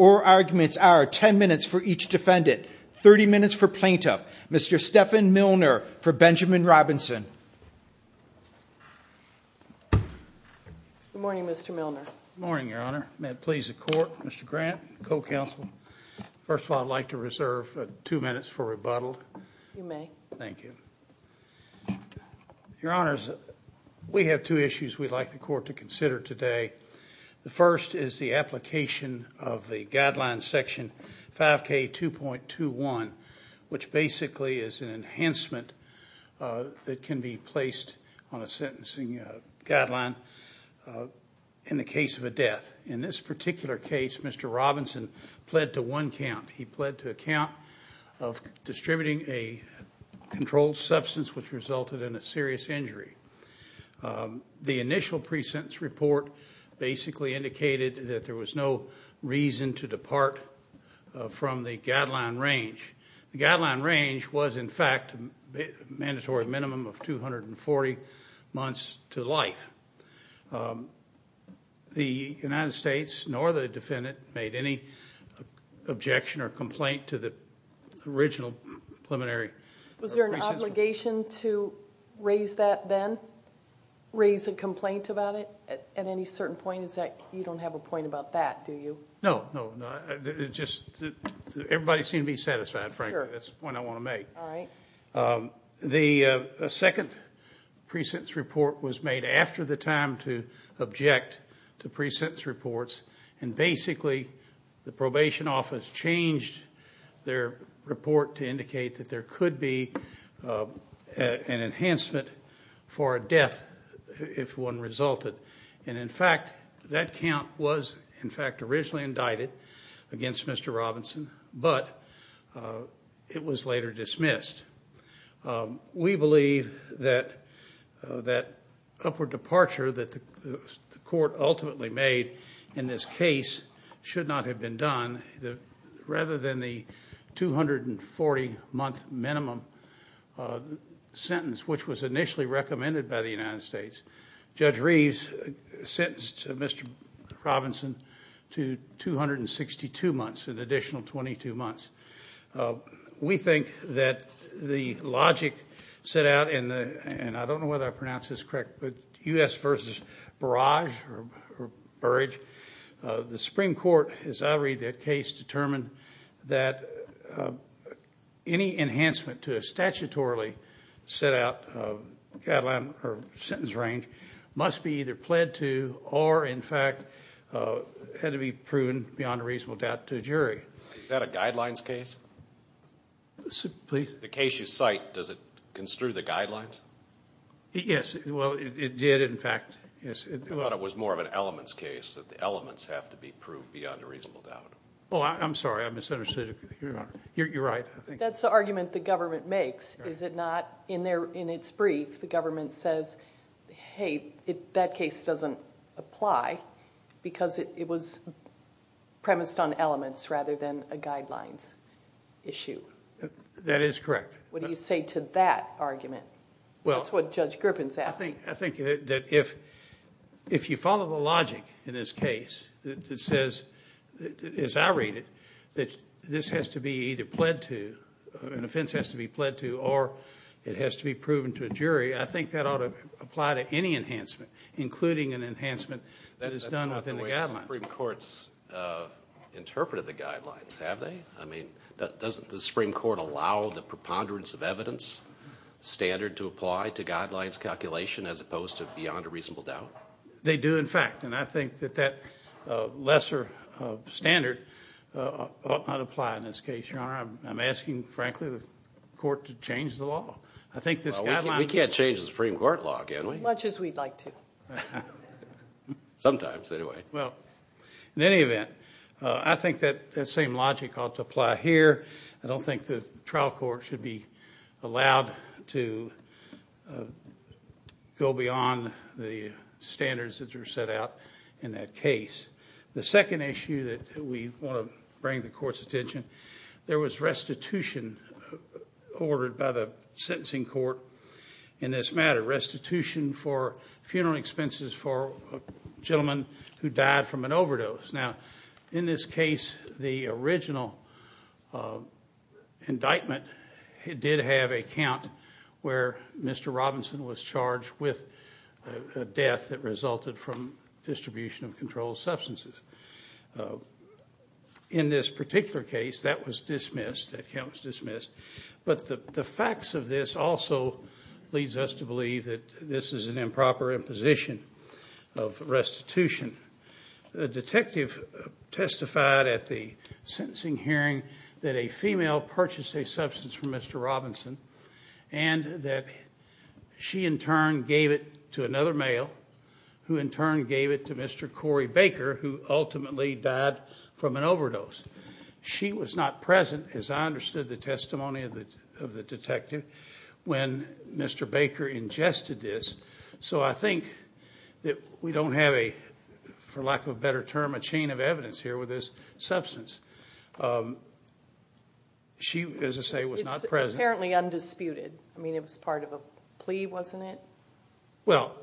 or arguments are 10 minutes for each defendant 30 minutes for plaintiff mr. Stephan Milner for Benjamin Robinson morning mr. Milner morning your honor please the court mr. Grant co-counsel first of all I'd like to reserve two minutes for rebuttal thank you your honors we have two issues we'd like the court to consider today the first is the application of the guideline section 5k 2.21 which basically is an enhancement that can be placed on a sentencing guideline in the case of a death in this particular case mr. Robinson pled to one count he pled to account of distributing a controlled substance which resulted in a serious injury the initial precincts report basically indicated that there was no reason to depart from the guideline range the guideline range was in fact mandatory minimum of 240 months to life the United States nor the defendant made any objection or complaint to the original preliminary was there an obligation to raise that then raise a complaint about it at any certain point is that you don't have a point about that do you know just everybody seem to be satisfied Frank that's when I want to make the second precincts report was made after the time to object to precincts reports and basically the probation office changed their report to indicate that there could be an enhancement for a death if one resulted in fact that count was in fact originally indicted against mr. Robinson but it was later dismissed we believe that that upper departure that the court ultimately made in this case should not have been done rather than the 240 month minimum sentence which was initially recommended by the United States judge Reeves sentenced to mr. Robinson to 262 months an additional 22 months we think that the logic set out in the and I don't know whether I pronounce this correct but us versus the Supreme Court is I read that case determined that any enhancement to a statutorily set out a sentence range must be either pled to or in fact had to be proven beyond a reasonable doubt to jury guidelines case the case you cite does it construe the guidelines yes it did in fact it was more of an elements case that the elements have to be proved beyond a reasonable doubt I'm sorry I misunderstood you're right that's the argument the government makes is it not in there in its brief the government says hey if that case doesn't apply because it was premised on elements rather than a guidelines issue that is correct what do you say to that argument well it's what judge griffins I think I think that if if you follow the logic in this case that says that is I read it that this has to be either pled to an offense has to be pled to or it has to be proven to a jury I think that ought to apply to any enhancement including an enhancement that is done within the government courts interpreted the ponderance of evidence standard to apply to guidelines calculation as opposed to beyond a reasonable doubt they do in fact and I think that that lesser standard not apply in this case your honor I'm asking frankly the court to change the law I think this guy we can't change the Supreme Court law can we much as we'd like to sometimes anyway well in any event I think that that same logical to apply here I don't think the trial court should be allowed to go beyond the standards that are set out in that case the second issue that we want to bring the court's attention there was restitution ordered by the sentencing court in this matter restitution for funeral expenses for a gentleman who indictment did have a count where Mr. Robinson was charged with a death that resulted from distribution of controlled substances in this particular case that was dismissed that counts dismissed but the facts of this also leads us to believe that this is an improper imposition of restitution the detective testified at the sentencing hearing that a female purchase a substance from Mr. Robinson and that she in turn gave it to another male who in turn gave it to Mr. Cory Baker who ultimately died from an overdose she was not present as I understood the testimony of the of the detective when Mr. Baker ingested this so I think that we don't have a for lack of a better term a chain of evidence here with this substance she was apparently undisputed I mean it was part of a plea wasn't it well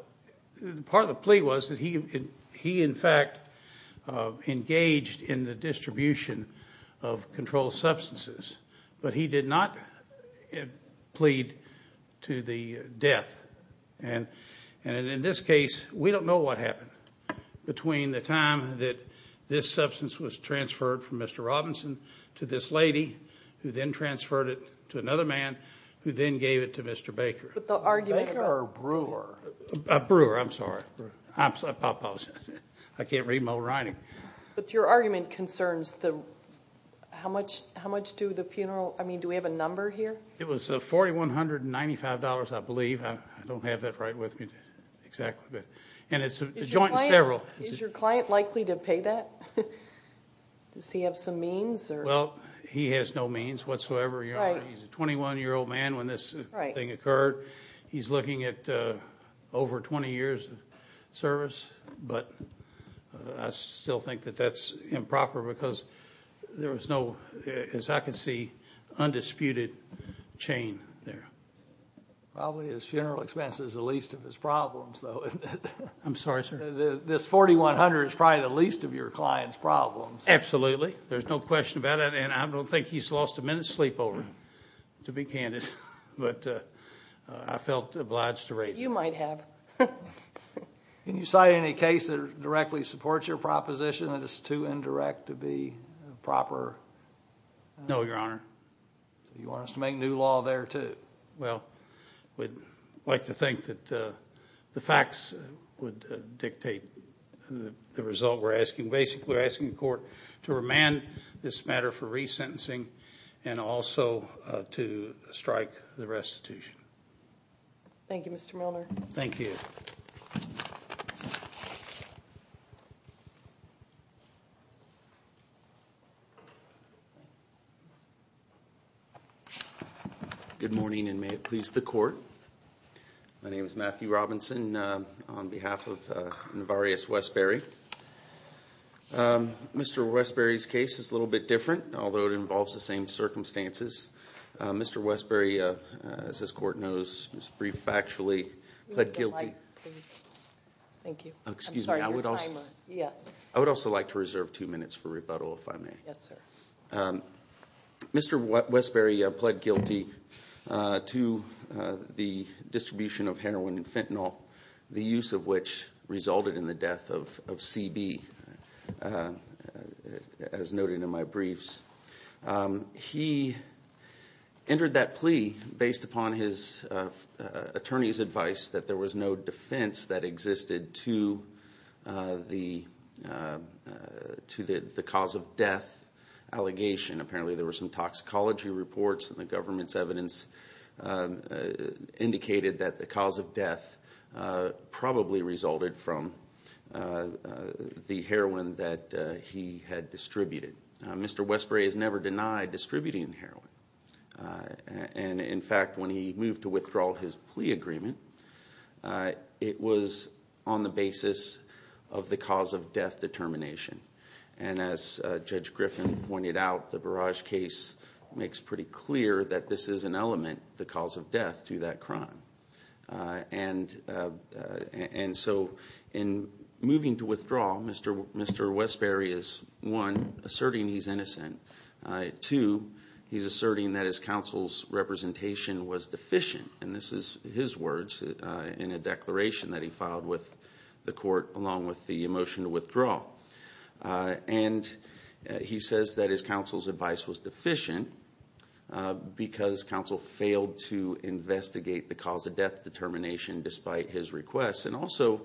the part of the plea was that he he in fact engaged in the and in this case we don't know what happened between the time that this substance was transferred from Mr. Robinson to this lady who then transferred it to another man who then gave it to Mr. Baker but the argument or brewer brewer I'm sorry I can't read my writing but your argument concerns them how much how much do the funeral I mean do we have a exactly good and it's a joint several is your client likely to pay that does he have some means or well he has no means whatsoever he's a 21 year old man when this thing occurred he's looking at over 20 years of service but I still think that that's improper because there was no as I can see undisputed chain probably his funeral expenses the least of his problems though I'm sorry sir this 4100 is probably the least of your clients problems absolutely there's no question about it and I don't think he's lost a minute sleepover to be candid but I felt obliged to raise you might have can you cite any case that directly supports your proposition that it's too indirect to be proper no your honor you well we'd like to think that the facts would dictate the result we're asking basically asking court to remand this matter for resentencing and also to please the court he was Matthew Robinson on behalf of various Westbury Mr. Westbury's case is a little bit different although it involves the same circumstances Mr. Westbury as this court knows his brief actually thank you I would also like to reserve two minutes for rebuttal Mr. Westbury pled guilty to the distribution of heroin and fentanyl the use of which resulted in the death of CB as noted in my briefs he entered that plea based upon his attorney's advice that there was no defense that existed to the to the the cause of death allegation apparently there were some toxicology reports the government's evidence indicated that the cause of death probably resulted from the heroin that he had distributed Mr. Westbury is never denied distributing heroin and in fact when he moved to withdraw his plea agreement it was on the basis of the cause of death determination and as judge Griffin pointed out the barrage case makes pretty clear that this is an element the cause of death to that crime and and so in moving to withdraw Mr. Mr. Westbury is one asserting he's innocent to he's asserting that his counsel's representation was deficient and this is his words in a declaration that he filed with the court along with the motion to withdraw and he says that his counsel's advice was deficient because counsel failed to investigate the cause of death determination despite his request and also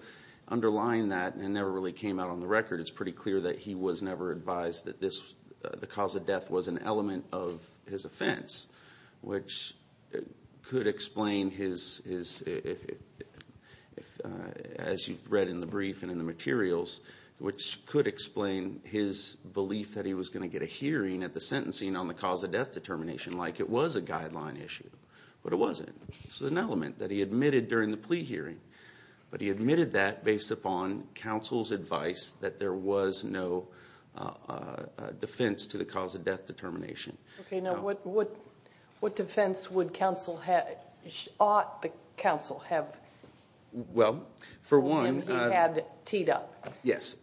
underlying that never really came out on the record is pretty clear that he was never advised that this the cause of death was an element of his offense which could explain his is it as you've read in the brief in the materials which could explain his belief that he was going to get a hearing at the sentencing on the cause of death determination like it was a guideline issue but it wasn't an element that he admitted during the plea hearing but he admitted that based upon counsel's advice that there was no defense to the cause of death determination you know what what what defense would counsel had ought the counsel have well for one had teed up yes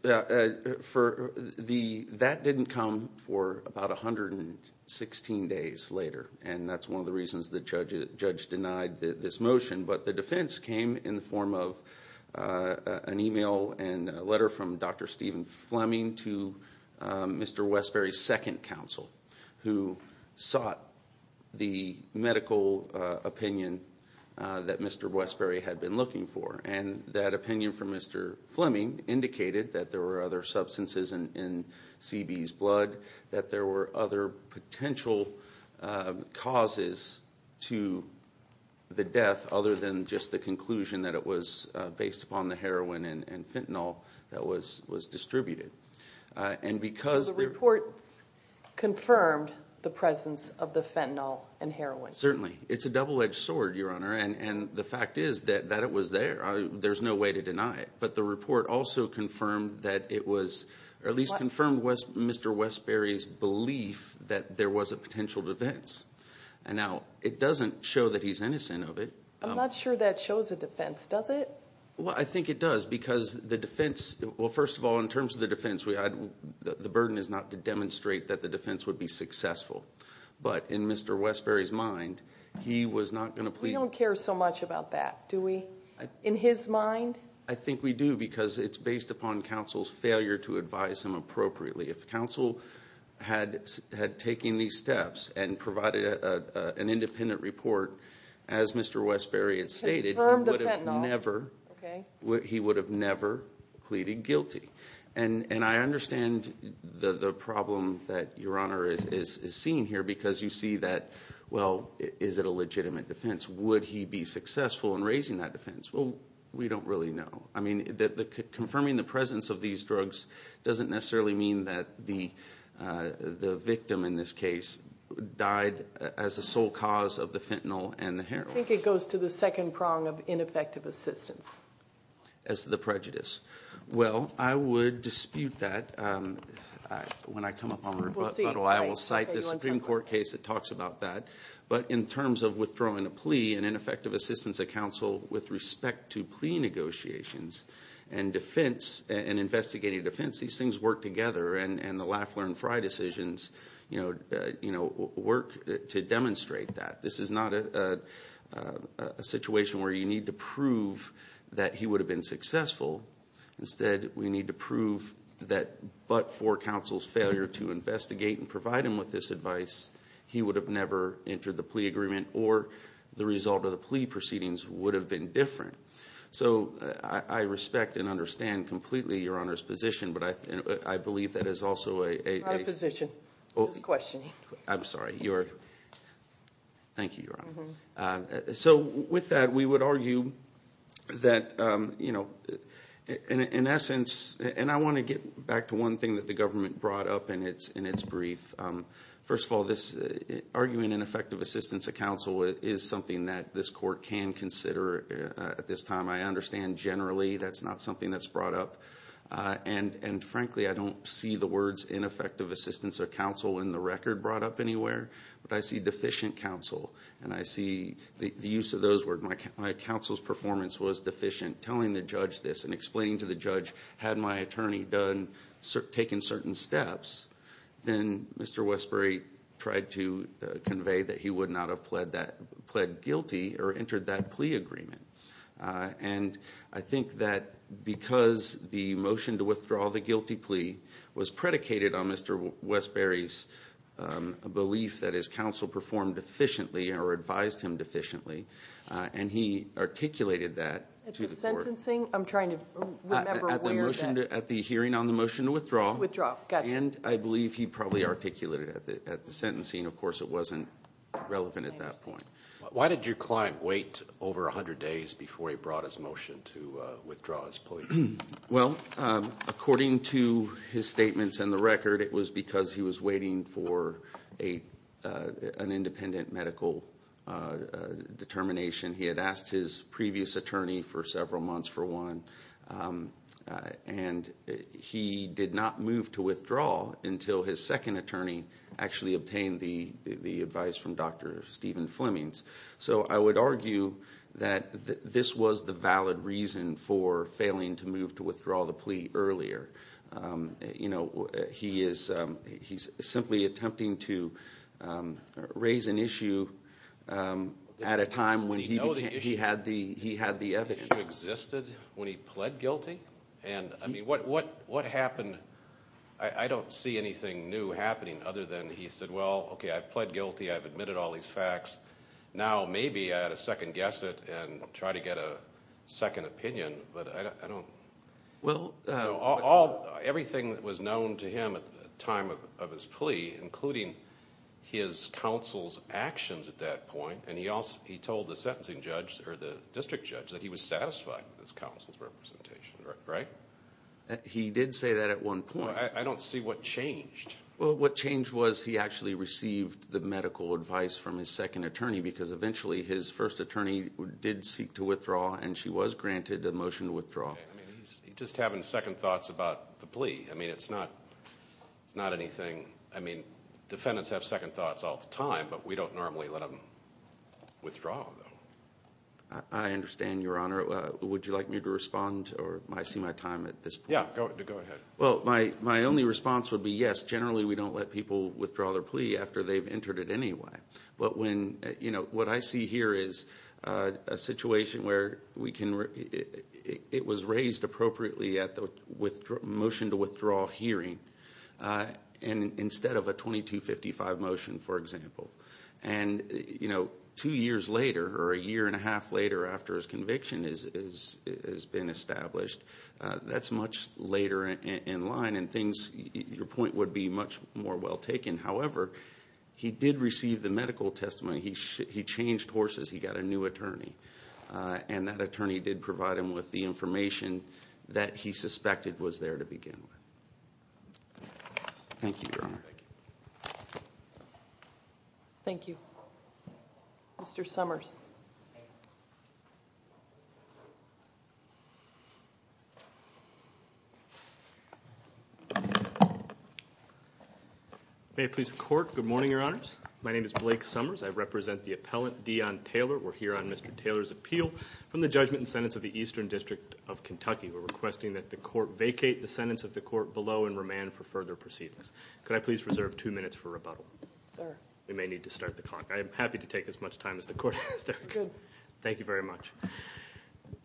for the that didn't come for about a hundred and sixteen days later and that's one of the reasons that judge denied that this motion but the defense came in the form of an email and letter from dr. Stephen Fleming to mr. Westbury second counsel who sought the medical opinion that mr. Westbury had been looking for and that opinion from mr. Fleming indicated that there were other substances and in CB's blood that there were other potential causes to the death other than just the conclusion that it was based upon the heroin and fentanyl that was was distributed and because the report confirmed the presence of the fentanyl and heroin certainly it's a double-edged sword your honor and and the fact is that that it was there there's no way to deny it but the report also confirmed that it was or that there was a potential defense and now it doesn't show that he's innocent of it I'm not sure that shows a defense does it well I think it does because the defense well first of all in terms of the defense we had the burden is not to demonstrate that the defense would be successful but in mr. Westbury's mind he was not gonna please don't care so much about that do we in his mind I think we do because it's based upon counsel's failure to advise him appropriately if counsel had had taken these steps and provided an independent report as mr. Westbury had stated never okay what he would have never pleaded guilty and and I understand the the problem that your honor is is seen here because you see that well is it a legitimate defense would he be successful in raising that defense well we don't really know I mean that the confirming the presence of these drugs doesn't necessarily mean that the the victim in this case died as a sole cause of the fentanyl and the hair I think it goes to the second prong of ineffective assistance as the prejudice well I would dispute that when I come up I will cite the Supreme Court case it talks about that but in terms of withdrawing a plea and ineffective assistance a council with respect to defense these things work together and and the Lafleur and Frey decisions you know you know work to demonstrate that this is not a situation where you need to prove that he would have been successful instead we need to prove that but for counsel's failure to investigate and provide him with this advice he would have never entered the plea agreement or the result of the plea proceedings would have been different so I respect and understand completely your position but I believe that is also a question I'm sorry you're thank you so with that we would argue that you know in essence and I want to get back to one thing that the government brought up and it's in its brief first of all this arguing ineffective assistance a council is something that this court can consider at this time I understand generally that's not something that's brought up and and frankly I don't see the words ineffective assistance or counsel in the record brought up anywhere but I see deficient counsel and I see the use of those word Mike my counsel's performance was deficient telling the judge this and explaining to the judge had my attorney done sir taken certain steps then mr. Westbury tried to convey that he would not have pled that guilty or entered that plea agreement and I think that because the motion to withdraw the guilty plea was predicated on mr. Westbury's a belief that his counsel performed efficiently or advised him deficiently and he articulated that at the hearing on the motion to withdraw withdraw and I believe he probably articulated at the at the sentencing of course it wasn't relevant at that point why did your client wait over a hundred days before he brought his motion to withdraw his plea well according to his statements in the record it was because he was waiting for a an independent medical determination he had asked his previous attorney for several months for one and he did not move to withdraw until his second attorney actually obtained the the advice from dr. Stephen Fleming's so I would argue that this was the valid reason for failing to move to withdraw the plea earlier you know he is he's simply attempting to raise an issue at a time when he had the he had the evidence existed when he pled guilty and I mean what what what happened I don't see anything new happening other than he said well okay I pled guilty I've admitted all these facts now maybe at a second guess it and try to get a second opinion but I don't well all everything that was known to him at the time of his plea including his counsel's actions at that point and he also he told the sentencing judge or the district judge that he was satisfied with his counsel's representation right he did say that at one point I don't see what changed well what changed was he actually received the medical advice from his second attorney because eventually his first attorney did seek to withdraw and she was granted a motion to withdraw just having second thoughts about the plea I mean it's not it's not anything I mean defendants have second thoughts all the time but we don't normally let them withdraw I understand your honor would you like me to respond or I see my time at this yeah go ahead well my my only response would be yes generally we don't let people withdraw their plea after they've entered it anyway but when you know what I see here is a situation where we can it was raised appropriately at the with motion to withdraw hearing and instead of a 2255 motion for example and you know two years later or a year and a been established that's much later in line and things your point would be much more well taken however he did receive the medical testimony he changed horses he got a new attorney and that attorney did provide him with the information that he suspected was there to begin thank you thank you mr. Summers may please court good morning your honors my name is Blake Summers I represent the appellant Dion Taylor we're here on mr. Taylor's appeal from the judgment and sentence of the Eastern District of Kentucky we're requesting that the court vacate the sentence of the court below and remand for further proceedings could I please reserve two minutes for rebuttal sir we need to start the clock I'm happy to take as much time as the court thank you very much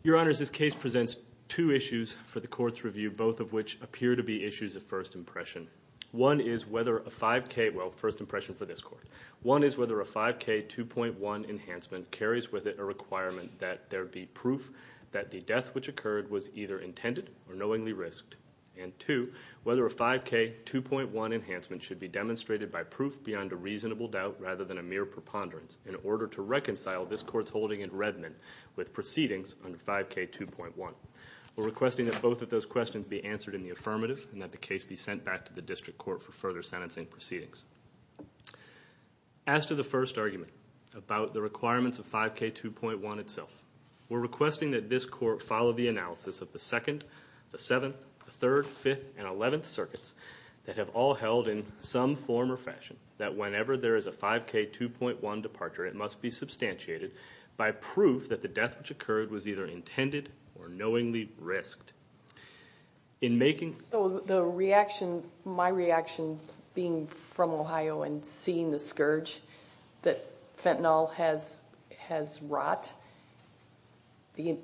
your honors this case presents two issues for the court's review both of which appear to be issues of first impression one is whether a 5k well first impression for this court one is whether a 5k 2.1 enhancement carries with it a requirement that there be proof that the death which occurred was either intended or knowingly risked and to whether a 5k 2.1 enhancement should be demonstrated by proof beyond a reasonable doubt rather than a mere preponderance in order to reconcile this court's holding in Redmond with proceedings under 5k 2.1 we're requesting that both of those questions be answered in the affirmative and that the case be sent back to the district court for further sentencing proceedings as to the first argument about the requirements of 5k 2.1 itself we're requesting that this court follow the analysis of the second the seventh third fifth and eleventh circuits that have all held in some form or fashion that whenever there is a 5k 2.1 departure it must be substantiated by proof that the death which occurred was either intended or knowingly risked in making so the reaction my reaction being from Ohio and seeing the scourge that fentanyl has has rot the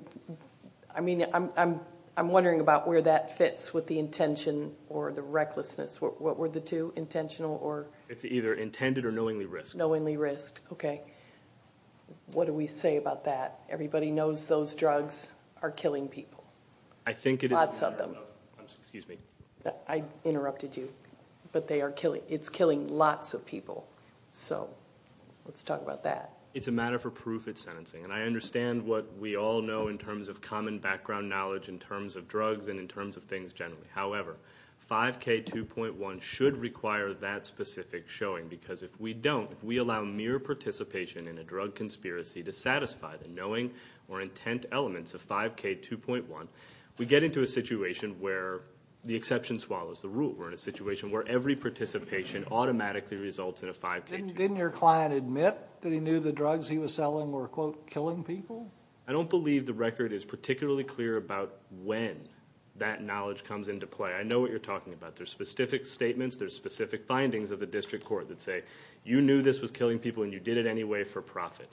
I mean I'm wondering about where that fits with the intention or the recklessness what were the two intentional or it's either intended or knowingly risk knowingly risk okay what do we say about that everybody knows those drugs are killing people I think it lots of them excuse me I interrupted you but they are killing it's killing lots of people so let's talk about that it's a matter for proof it's sentencing and I understand what we all know in terms of common background knowledge in terms of things generally however 5k 2.1 should require that specific showing because if we don't we allow mere participation in a drug conspiracy to satisfy the knowing or intent elements of 5k 2.1 we get into a situation where the exception swallows the rule we're in a situation where every participation automatically results in a 5k didn't your client admit that he knew the drugs he was selling were quote killing people I don't believe the record is knowledge comes into play I know what you're talking about there's specific statements there's specific findings of the district court that say you knew this was killing people and you did it anyway for profit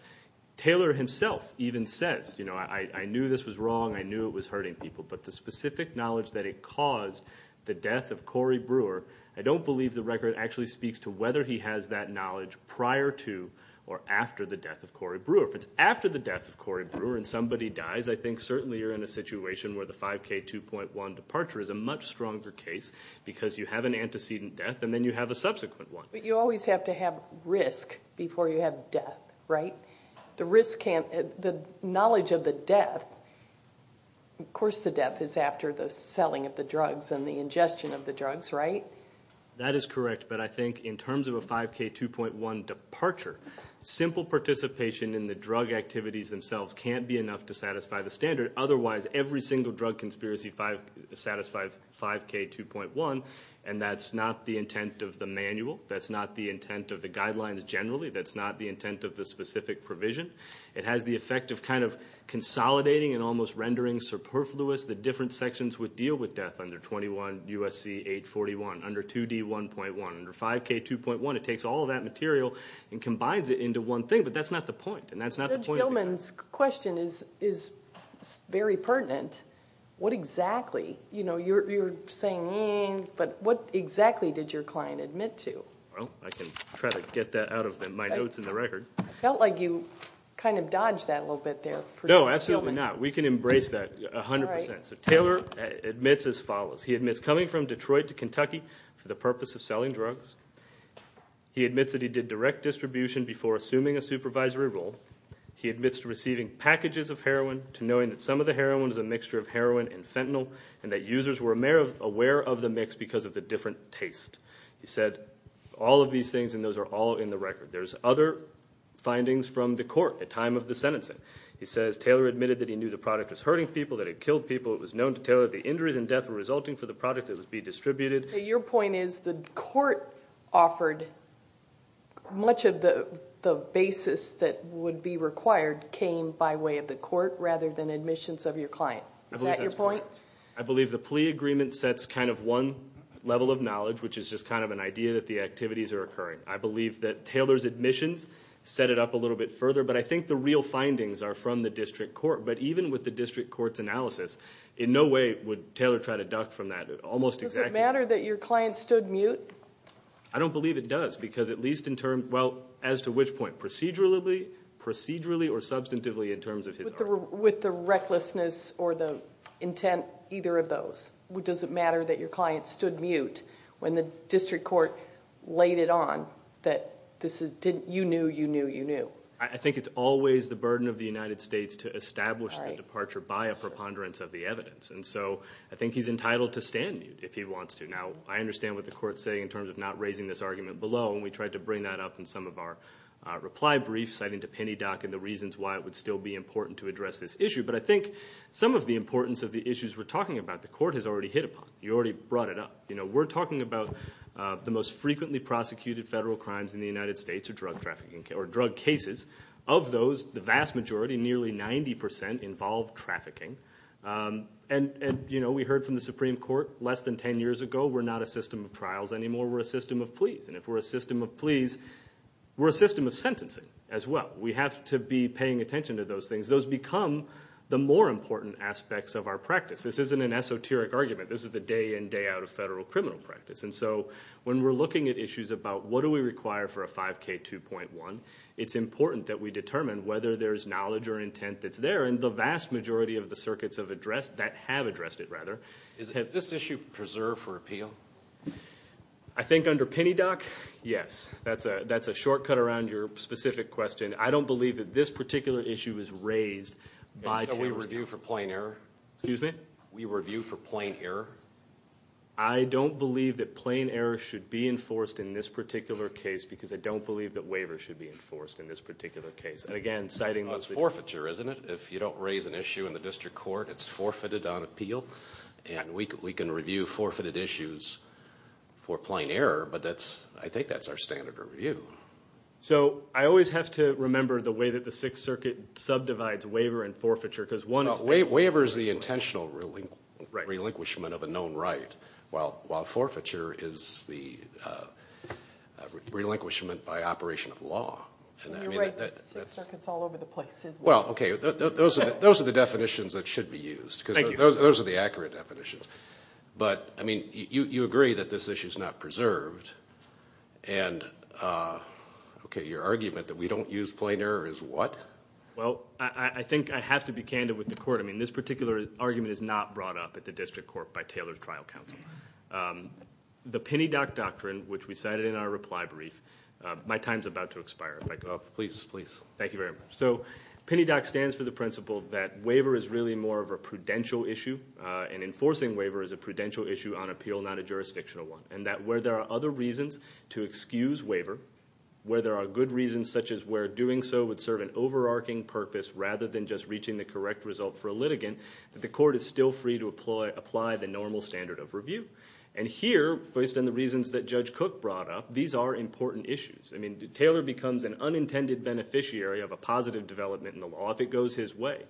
Taylor himself even says you know I I knew this was wrong I knew it was hurting people but the specific knowledge that it caused the death of Cory Brewer I don't believe the record actually speaks to whether he has that knowledge prior to or after the death of Cory Brewer if it's after the death of Cory Brewer and somebody dies I think certainly you're in a situation where the 5k 2.1 departure is a much stronger case because you have an antecedent death and then you have a subsequent one you always have to have risk before you have death right the risk and the knowledge of the death of course the death is after the selling of the drugs and the ingestion of the drugs right that is correct but I think in terms of a 5k 2.1 departure simple participation in the drug activities themselves can't be enough to satisfy the standard otherwise every single drug conspiracy 5 satisfied 5k 2.1 and that's not the intent of the manual that's not the intent of the guidelines generally that's not the intent of the specific provision it has the effect of kind of consolidating and almost rendering superfluous the different sections would deal with death under 21 USC 841 under 2d 1.1 under 5k 2.1 it takes all that material and combines it into one thing but that's not the point and that's not a woman's question is is very pertinent what exactly you know you're saying but what exactly did your client admit to well I can try to get that out of them my notes in the record felt like you kind of dodged that a little bit there no absolutely not we can embrace that a hundred percent so Taylor admits as follows he admits coming from Detroit to Kentucky for the purpose of selling drugs he admits that he did direct distribution before assuming a supervisory role he admits to receiving packages of heroin to knowing that some of the heroin is a mixture of heroin and fentanyl and that users were a mayor of aware of the mix because of the different taste he said all of these things and those are all in the record there's other findings from the court at time of the sentencing he says Taylor admitted that he knew the product was hurting people that it killed people it was known to tell her the injuries and death were resulting for the product it would be distributed your point is the court offered much of the the basis that would be required came by way of the court rather than admissions of your client that's your point I believe the plea agreement sets kind of one level of knowledge which is just kind of an idea that the activities are occurring I believe that Taylor's admissions set it up a little bit further but I think the real findings are from the district court but even with the district courts analysis in no way would tell her try to duck from that almost exactly matter that your client stood mute I don't believe it does because at least in term well as to which point procedurally procedurally or substantively in terms of his with the recklessness or the intent either of those which doesn't matter that your client stood mute when the district court laid it on that this is didn't you knew you knew you knew I think it's always the burden of the ponderance of the evidence and so I think he's entitled to stand if he wants to know I understand what the court say in terms of not raising this argument below we tried to bring that up in some of our reply brief citing to penny dock and the reasons why it would still be important to address this issue but I think some of the importance of the issues we're talking about the court is already hit upon you already brought it up you know we're talking about the most frequently prosecuted federal crimes in the United States drug trafficking or drug cases of those the vast majority nearly 90% involved trafficking and and you know we heard from the Supreme Court less than 10 years ago we're not a system of trials anymore we're a system of pleas and if we're a system of pleas we're a system of sentencing as well we have to be paying attention to those things those become the more important aspects of our practice this isn't an esoteric argument this is the day in day out of federal criminal practice and so when we're looking at issues about what do we require for a 5k 2.1 it's important that we determine whether there's knowledge or intent that's there and the vast majority of the circuits have addressed that have addressed it rather is has this issue preserved for appeal I think under penny dock yes that's a that's a shortcut around your specific question I don't believe that this particular issue is raised by we review for plain error excuse me we review for plain error I don't believe that plain error should be enforced in this particular case because I don't believe that waiver should be isn't it if you don't raise an issue in the district court it's forfeited on appeal and we can review forfeited issues for plain error but that's I think that's our standard of review so I always have to remember the way that the Sixth Circuit subdivides waiver and forfeiture because one of the waivers the intentional relinquishment of a known right well while forfeiture is the those are the definitions that should be used because those are the accurate definitions but I mean you agree that this issue is not preserved and okay your argument that we don't use plain error is what well I think I have to be candid with the court I mean this particular argument is not brought up at the district court by Taylor's trial counsel the penny dock doctrine which we cited in our reply brief my time's about to expire like oh please please thank you very much so penny dock stands for the principle that waiver is really more of a prudential issue and enforcing waiver is a prudential issue on appeal not a jurisdictional one and that where there are other reasons to excuse waiver where there are good reasons such as where doing so would serve an overarching purpose rather than just reaching the correct result for a litigant that the court is still free to apply apply the normal standard of review and here based on the reasons that Judge Cook brought up these are Taylor becomes an unintended beneficiary of a positive development in the law if it goes his way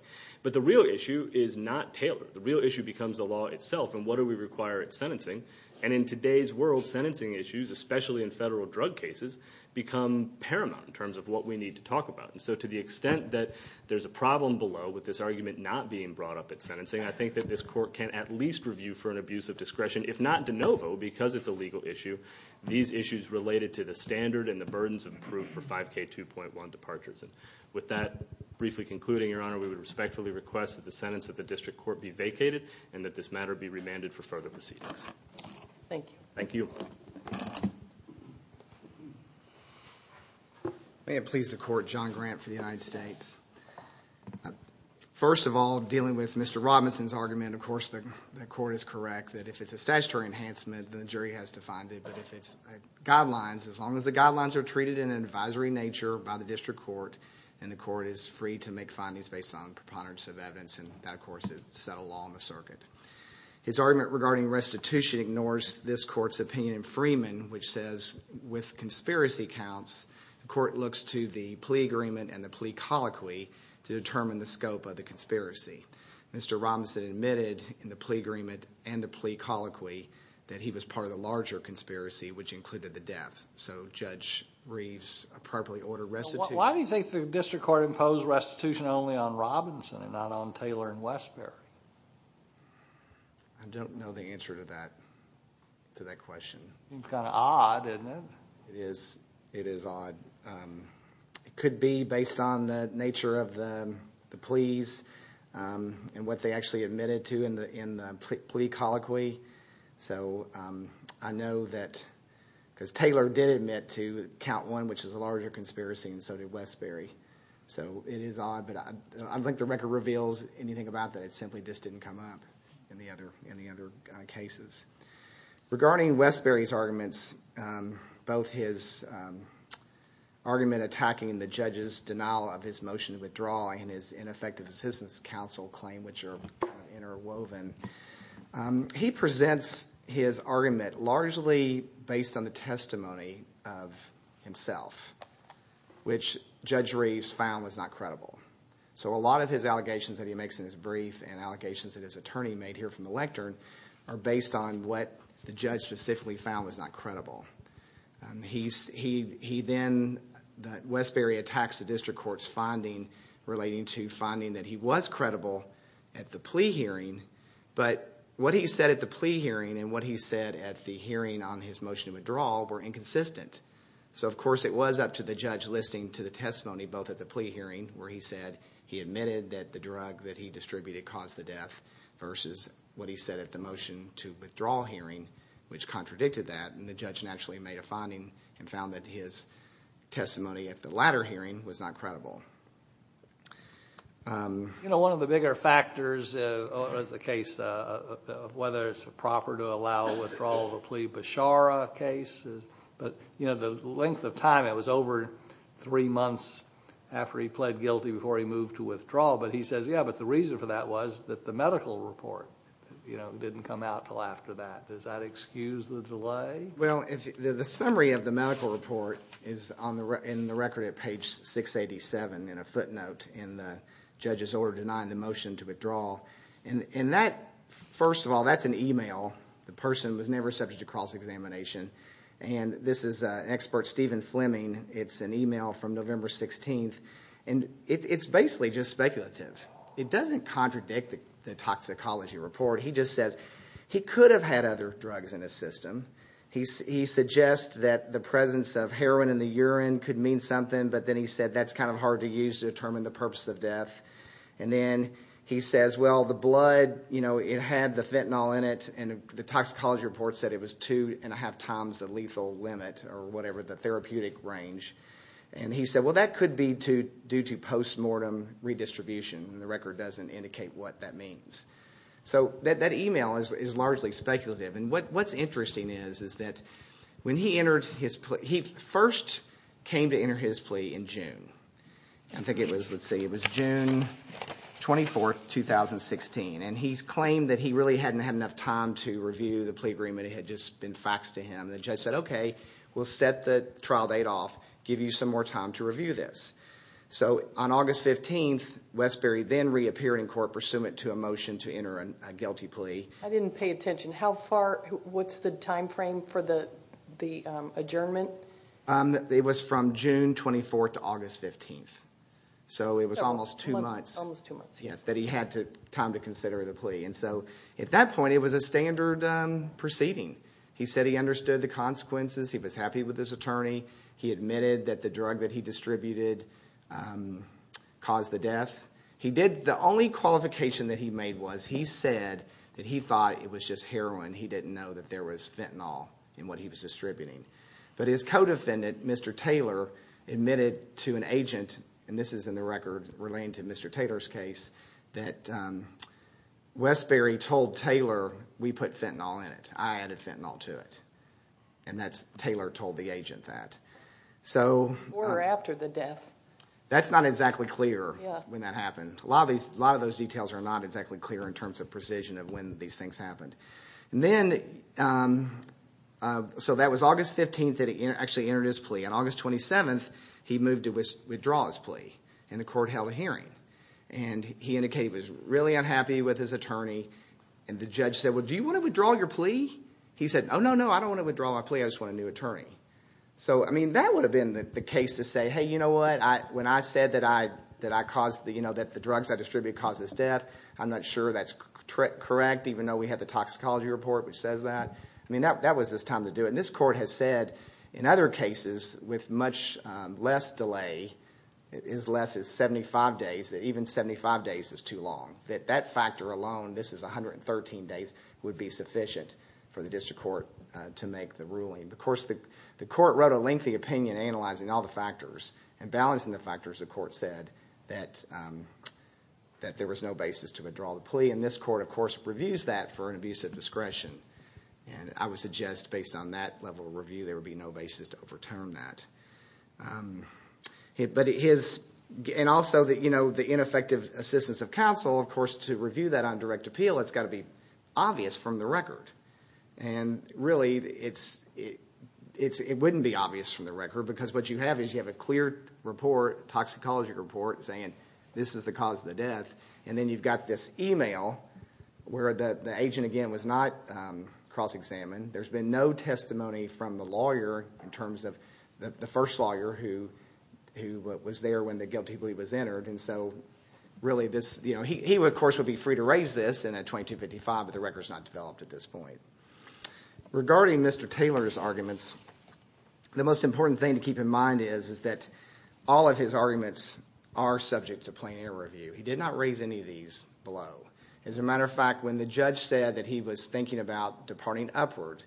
but the real issue is not Taylor the real issue becomes the law itself and what do we require at sentencing and in today's world sentencing issues especially in federal drug cases become paramount in terms of what we need to talk about and so to the extent that there's a problem below with this argument not being brought up at sentencing I think that this court can at least review for an abuse of discretion if not de novo because it's a legal issue these issues related to the standard and the burdens of proof for 5k 2.1 departures and with that briefly concluding your honor we would respectfully request that the sentence of the district court be vacated and that this matter be remanded for further proceedings thank you thank you may it please the court John grant for the United States first of all dealing with mr. Robinson's argument of course the court is correct that if it's a enhancement the jury has to find it but if it's guidelines as long as the guidelines are treated in an advisory nature by the district court and the court is free to make findings based on preponderance of evidence and that of course is set a law on the circuit his argument regarding restitution ignores this courts opinion Freeman which says with conspiracy counts the court looks to the plea agreement and the plea colloquy to determine the scope of the conspiracy mr. Robinson admitted in the plea agreement and the plea colloquy that he was part of the larger conspiracy which included the death so judge Reeves appropriately ordered rest why do you think the district court imposed restitution only on Robinson and not on Taylor and Westbury I don't know the answer to that to that question it's kind of odd and it is it is odd it could be based on the nature of the pleas and what they actually admitted to in the plea colloquy so I know that because Taylor did admit to count one which is a larger conspiracy and so did Westbury so it is odd but I think the record reveals anything about that it simply just didn't come up in the other in the other cases regarding Westbury's arguments both his argument attacking the judges denial of his motion to withdraw and his ineffective assistance counsel claim which are interwoven he presents his argument largely based on the testimony of himself which judge Reeves found was not credible so a lot of his allegations that he makes in his brief and allegations that his attorney made here from the lectern are based on what the judge specifically found was not credible he's he he then that Westbury attacks the district court's relating to finding that he was credible at the plea hearing but what he said at the plea hearing and what he said at the hearing on his motion of withdrawal were inconsistent so of course it was up to the judge listening to the testimony both at the plea hearing where he said he admitted that the drug that he distributed caused the death versus what he said at the motion to withdraw hearing which contradicted that and the judge naturally made a finding and found that his testimony at the latter hearing was not credible you know one of the bigger factors is the case of whether it's a proper to allow withdrawal of a plea Bashara case but you know the length of time it was over three months after he pled guilty before he moved to withdrawal but he says yeah but the reason for that was that the medical report you know didn't come out till after that does that excuse the delay well if the summary of the medical report is on the record in the record at page 687 in a footnote in the judges order denying the motion to withdraw and in that first of all that's an email the person was never subject to cross-examination and this is an expert Stephen Fleming it's an email from November 16th and it's basically just speculative it doesn't contradict the toxicology report he just says he could have had other drugs in his system he suggests that the presence of heroin in the urine could mean something but then he said that's kind of hard to use to determine the purpose of death and then he says well the blood you know it had the fentanyl in it and the toxicology report said it was two and a half times the lethal limit or whatever the therapeutic range and he said well that could be to due to post-mortem redistribution and the record doesn't indicate what that means so that that email is largely speculative and what what's interesting is is that when he entered his play he first came to enter his plea in June I think it was let's say it was June 24th 2016 and he's claimed that he really hadn't had enough time to review the plea agreement it had just been faxed to him the judge said okay we'll set the trial date off give you some more time to review this so on August 15th Westbury then reappeared in court pursuant to a motion to enter a guilty plea I didn't pay attention how far what's the time frame for the the adjournment it was from June 24th to August 15th so it was almost two months yes that he had to time to consider the plea and so at that point it was a standard proceeding he said he understood the consequences he was happy with this attorney he admitted that the qualification that he made was he said that he thought it was just heroin he didn't know that there was fentanyl in what he was distributing but his co-defendant mr. Taylor admitted to an agent and this is in the record relating to mr. Taylor's case that Westbury told Taylor we put fentanyl in it I added fentanyl to it and that's Taylor told the agent that so we're after the death that's not exactly clear when that happened a lot of these a lot of those details are not exactly clear in terms of precision of when these things happened and then so that was August 15th that he actually entered his plea on August 27th he moved to withdraw his plea and the court held a hearing and he indicated was really unhappy with his attorney and the judge said well do you want to withdraw your plea he said oh no no I don't want to withdraw my plea I just want a new attorney so I mean that would have been that the case to say hey you know what I when I said that I that I caused the you know that the drugs I distribute cause this death I'm not sure that's correct correct even though we had the toxicology report which says that I mean that was this time to do it and this court has said in other cases with much less delay is less is 75 days that even 75 days is too long that that factor alone this is 113 days would be sufficient for the district court to make the ruling of course the the court wrote a lengthy opinion analyzing all the factors and balancing the factors the court said that that there was no basis to withdraw the plea in this court of course reviews that for an abuse of discretion and I would suggest based on that level of review there would be no basis to overturn that but it is and also that you know the ineffective assistance of counsel of course to review that on direct appeal it's got to be obvious from the record and really it's it's it wouldn't be obvious from the record because what you have is you have a clear report toxicology report saying this is the cause of the death and then you've got this email where the the agent again was not cross-examined there's been no testimony from the lawyer in terms of the first lawyer who who was there when the guilty plea was entered and so really this you know he of course would be free to raise this and at 2255 but the records not developed at this point regarding mr. Taylor's arguments the most important thing to keep in mind is is that all of his arguments are subject to plain air review he did not raise any of these below as a matter of fact when the judge said that he was thinking about departing upward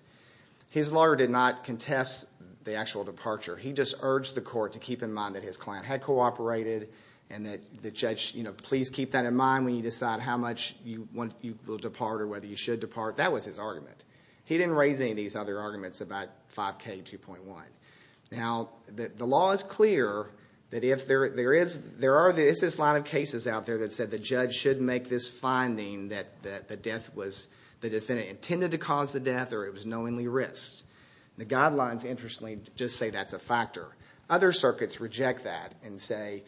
his lawyer did not contest the actual departure he just urged the court to keep in mind that his client had cooperated and that the judge you know please keep that in mind when you decide how much you want you will depart or whether you should depart that was his argument he didn't raise any of these other arguments about 5k 2.1 now that the law is clear that if there there is there are this this line of cases out there that said the judge should make this finding that the death was the defendant intended to cause the death or it was knowingly risked the guidelines interestingly just say that's a factor other circuits reject that and chain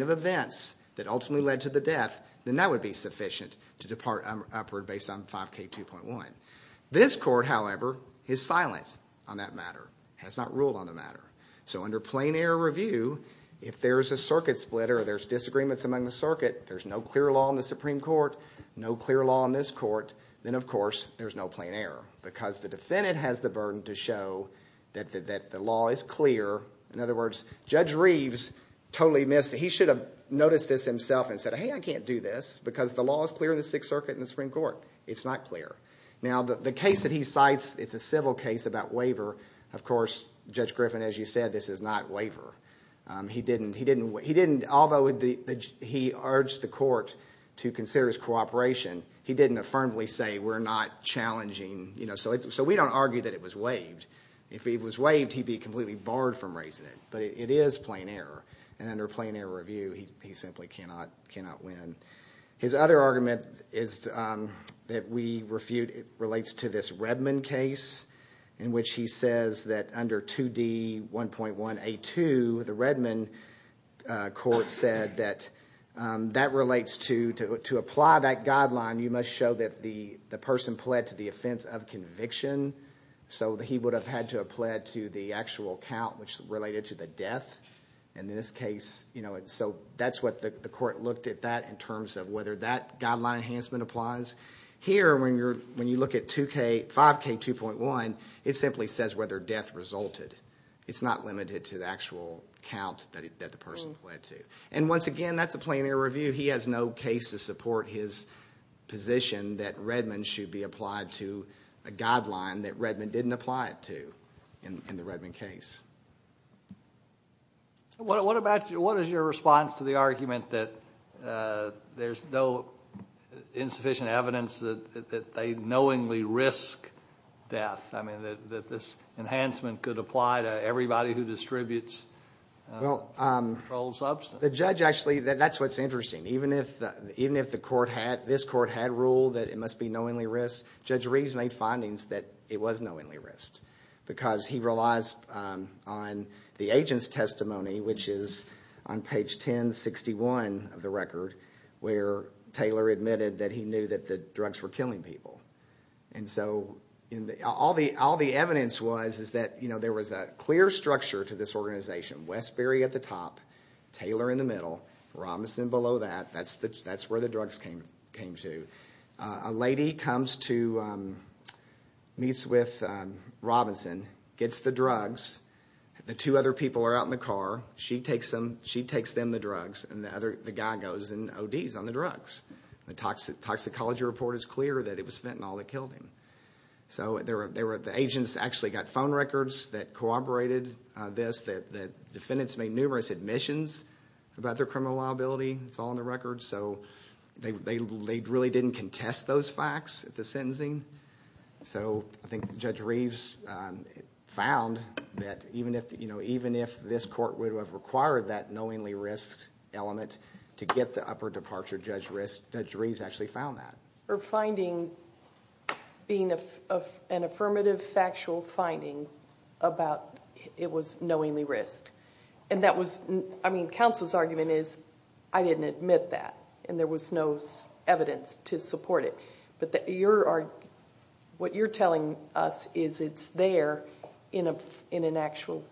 of events that ultimately led to the death that would be sufficient to depart upward based on 5k 2.1 this court however is silent on that matter has not ruled on the matter so under plain air review if there's a circuit splitter there's disagreements among the circuit there's no clear law in the Supreme Court no clear law in this court then of course there's no plain air because the defendant has the burden to show that the law is clear in other words judge totally missed he should have noticed this himself and said hey I can't do this because the law is clear in the Sixth Circuit in the Supreme Court it's not clear now the case that he cites it's a civil case about waiver of course judge Griffin as you said this is not waiver he didn't he didn't what he didn't although he urged the court to consider his cooperation he didn't affirmably say we're not challenging you know so it's so we don't argue that it was waived if he was waived he'd be completely barred from raising it but it is plain error and under plain air review he simply cannot cannot win his other argument is that we refute it relates to this Redmond case in which he says that under 2d 1.1 a to the Redmond court said that that relates to to apply that guideline you must show that the the person pled to the offense of conviction so that he would have had to have pled to the actual count which in this case you know it so that's what the court looked at that in terms of whether that guideline enhancement applies here when you're when you look at 2k 5k 2.1 it simply says whether death resulted it's not limited to the actual count that the person pled to and once again that's a plain air review he has no case to support his position that Redmond should be applied to a guideline that Redmond didn't apply it to in the Redmond case what about you what is your response to the argument that there's no insufficient evidence that they knowingly risk death I mean that this enhancement could apply to everybody who distributes well the judge actually that that's what's interesting even if even if the court had this court had ruled that it must be knowingly risk judge Reeves made findings that it was knowingly risk because he relies on the agent's testimony which is on page 1061 of the record where Taylor admitted that he knew that the drugs were killing people and so in the all the all the evidence was is that you know there was a clear structure to this organization Westbury at the top Taylor in the middle Robinson below that that's the that's where the drugs came came to a lady comes to meets with Robinson gets the drugs the two other people are out in the car she takes them she takes them the drugs and the other the guy goes and ODs on the drugs the toxic toxicology report is clear that it was fentanyl that killed him so there were there were the agents actually got phone records that corroborated this that the defendants made numerous admissions about their criminal liability it's all on the record so they really didn't contest those facts at the sentencing so I think judge Reeves found that even if you know even if this court would have required that knowingly risk element to get the upper departure judge risk judge Reeves actually found that or finding being an affirmative factual finding about it was knowingly risked and that was I mean counsel's argument is I didn't admit that and there was no evidence to support it but that you're are what you're telling us is it's there in a in an actual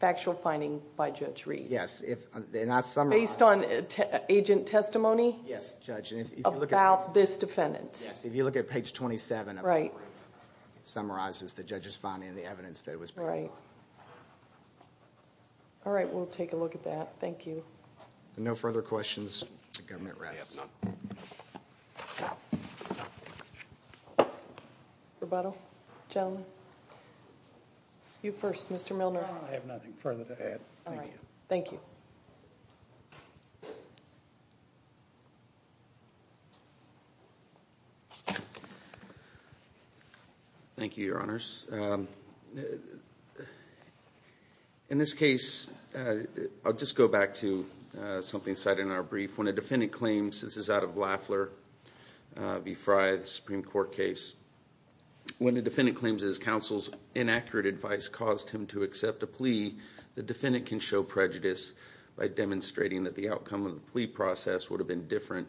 factual finding by judge Reed yes if they're not some based on agent testimony yes judge about this defendant yes if you look at page 27 right summarizes the judges finding the no further questions rebuttal gentlemen you first mr. Milner I have nothing further to add all right thank you thank you your honors in this case I'll just go back to something said in our brief when a defendant claims this is out of Lafleur v. Frye the Supreme Court case when the defendant claims his counsel's inaccurate advice caused him to accept a plea the defendant can show prejudice by demonstrating that the outcome of the plea process would have been different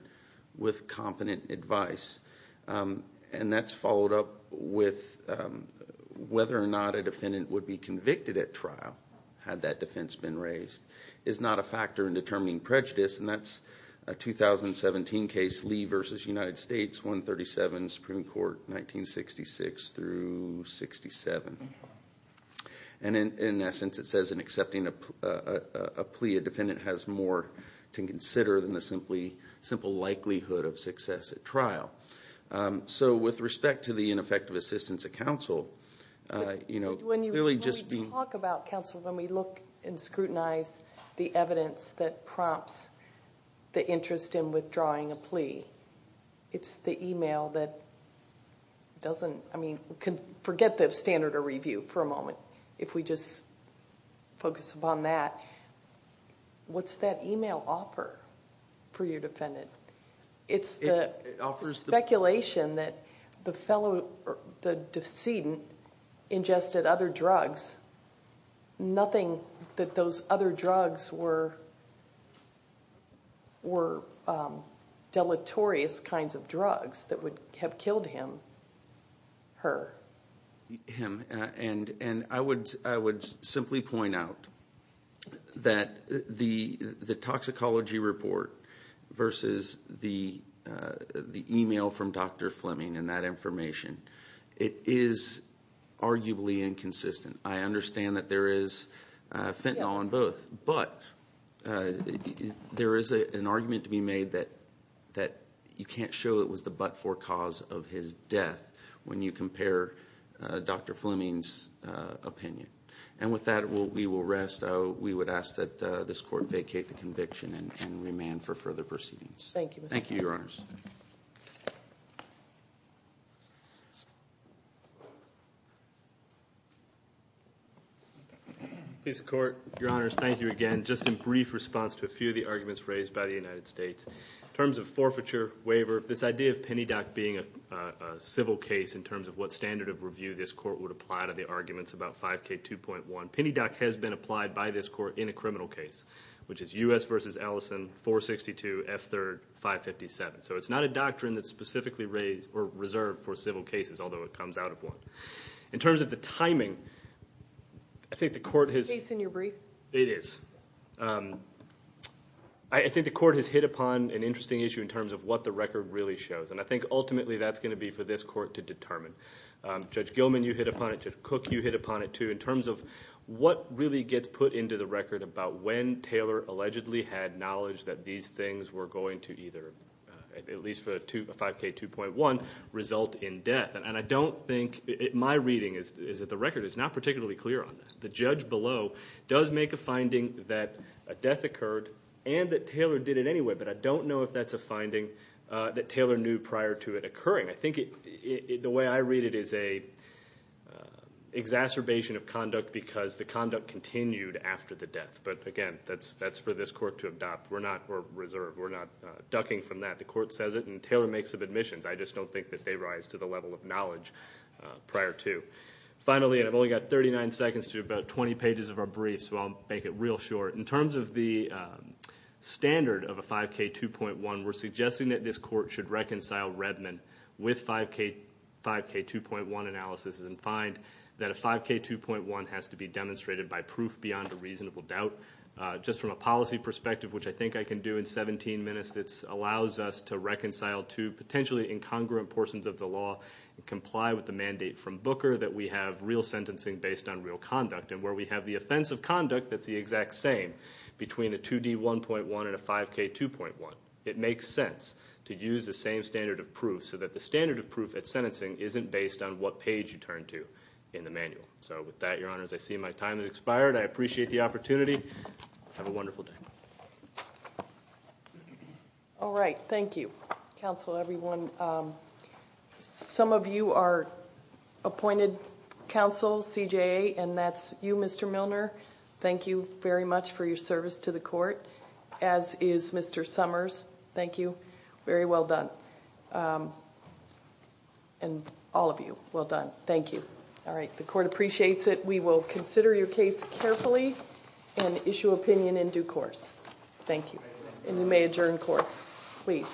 with competent advice and that's followed up with whether or not a defendant would be convicted at trial had that defense been raised is not a factor in determining prejudice and that's a 2017 case Lee versus United States 137 Supreme Court 1966 through 67 and in essence it says in accepting a plea a defendant has more to consider than the simply simple likelihood of success at trial so with respect to the ineffective assistance of counsel you know when you really just talk about counsel when we look and scrutinize the evidence that prompts the interest in withdrawing a plea it's the email that doesn't I mean forget that standard review for a moment if we just focus upon that what's that email offer for your defendant it's the speculation that the fellow or the decedent ingested other drugs nothing that those other drugs were were deleterious kinds of and and I would I would simply point out that the the toxicology report versus the email from dr. Fleming and that information it is arguably inconsistent I understand that there is fentanyl in both but there is an argument to be made that that you can't show it was the but for cause of his death when you compare dr. Fleming's opinion and with that we will rest oh we would ask that this court vacate the conviction and remain for further proceedings thank you thank you your honors please court your honors thank you again just a brief response to a few of the arguments raised by the United States in terms of forfeiture waiver this idea of civil case in terms of what standard of review this court would apply to the arguments about 5k 2.1 penny doc has been applied by this court in a criminal case which is u.s. versus Allison 462 f3rd 557 so it's not a doctrine that's specifically raised or reserved for civil cases although it comes out of one in terms of the timing I think the court has in your brief it is I think the court has hit upon an interesting issue in terms of what the for this court to determine judge Gilman you hit upon it just cook you hit upon it too in terms of what really gets put into the record about when Taylor allegedly had knowledge that these things were going to either at least for two 5k 2.1 result in death and I don't think it my reading is that the record is not particularly clear on the judge below does make a finding that a death occurred and that Taylor did it anyway but I don't know if that's a I think it the way I read it is a exacerbation of conduct because the conduct continued after the death but again that's that's for this court to adopt we're not reserved we're not ducking from that the court says it and Taylor makes of admissions I just don't think that they rise to the level of knowledge prior to finally and I've only got 39 seconds to about 20 pages of our brief so I'll make it real short in terms of the standard of a 5k 2.1 we're with 5k 5k 2.1 analysis and find that a 5k 2.1 has to be demonstrated by proof beyond a reasonable doubt just from a policy perspective which I think I can do in 17 minutes that's allows us to reconcile to potentially incongruent portions of the law and comply with the mandate from Booker that we have real sentencing based on real conduct and where we have the offensive conduct that's the exact same between a 2d 1.1 and a 5k 2.1 it makes sense to use the standard of proof so that the standard of proof at sentencing isn't based on what page you turn to in the manual so with that your honors I see my time has expired I appreciate the opportunity have a wonderful day all right thank you counsel everyone some of you are appointed counsel CJA and that's you mr. Milner thank you very much for your service to the court as is mr. Summers thank you very well done and all of you well done thank you all right the court appreciates it we will consider your case carefully and issue opinion in due course thank you and you may adjourn court please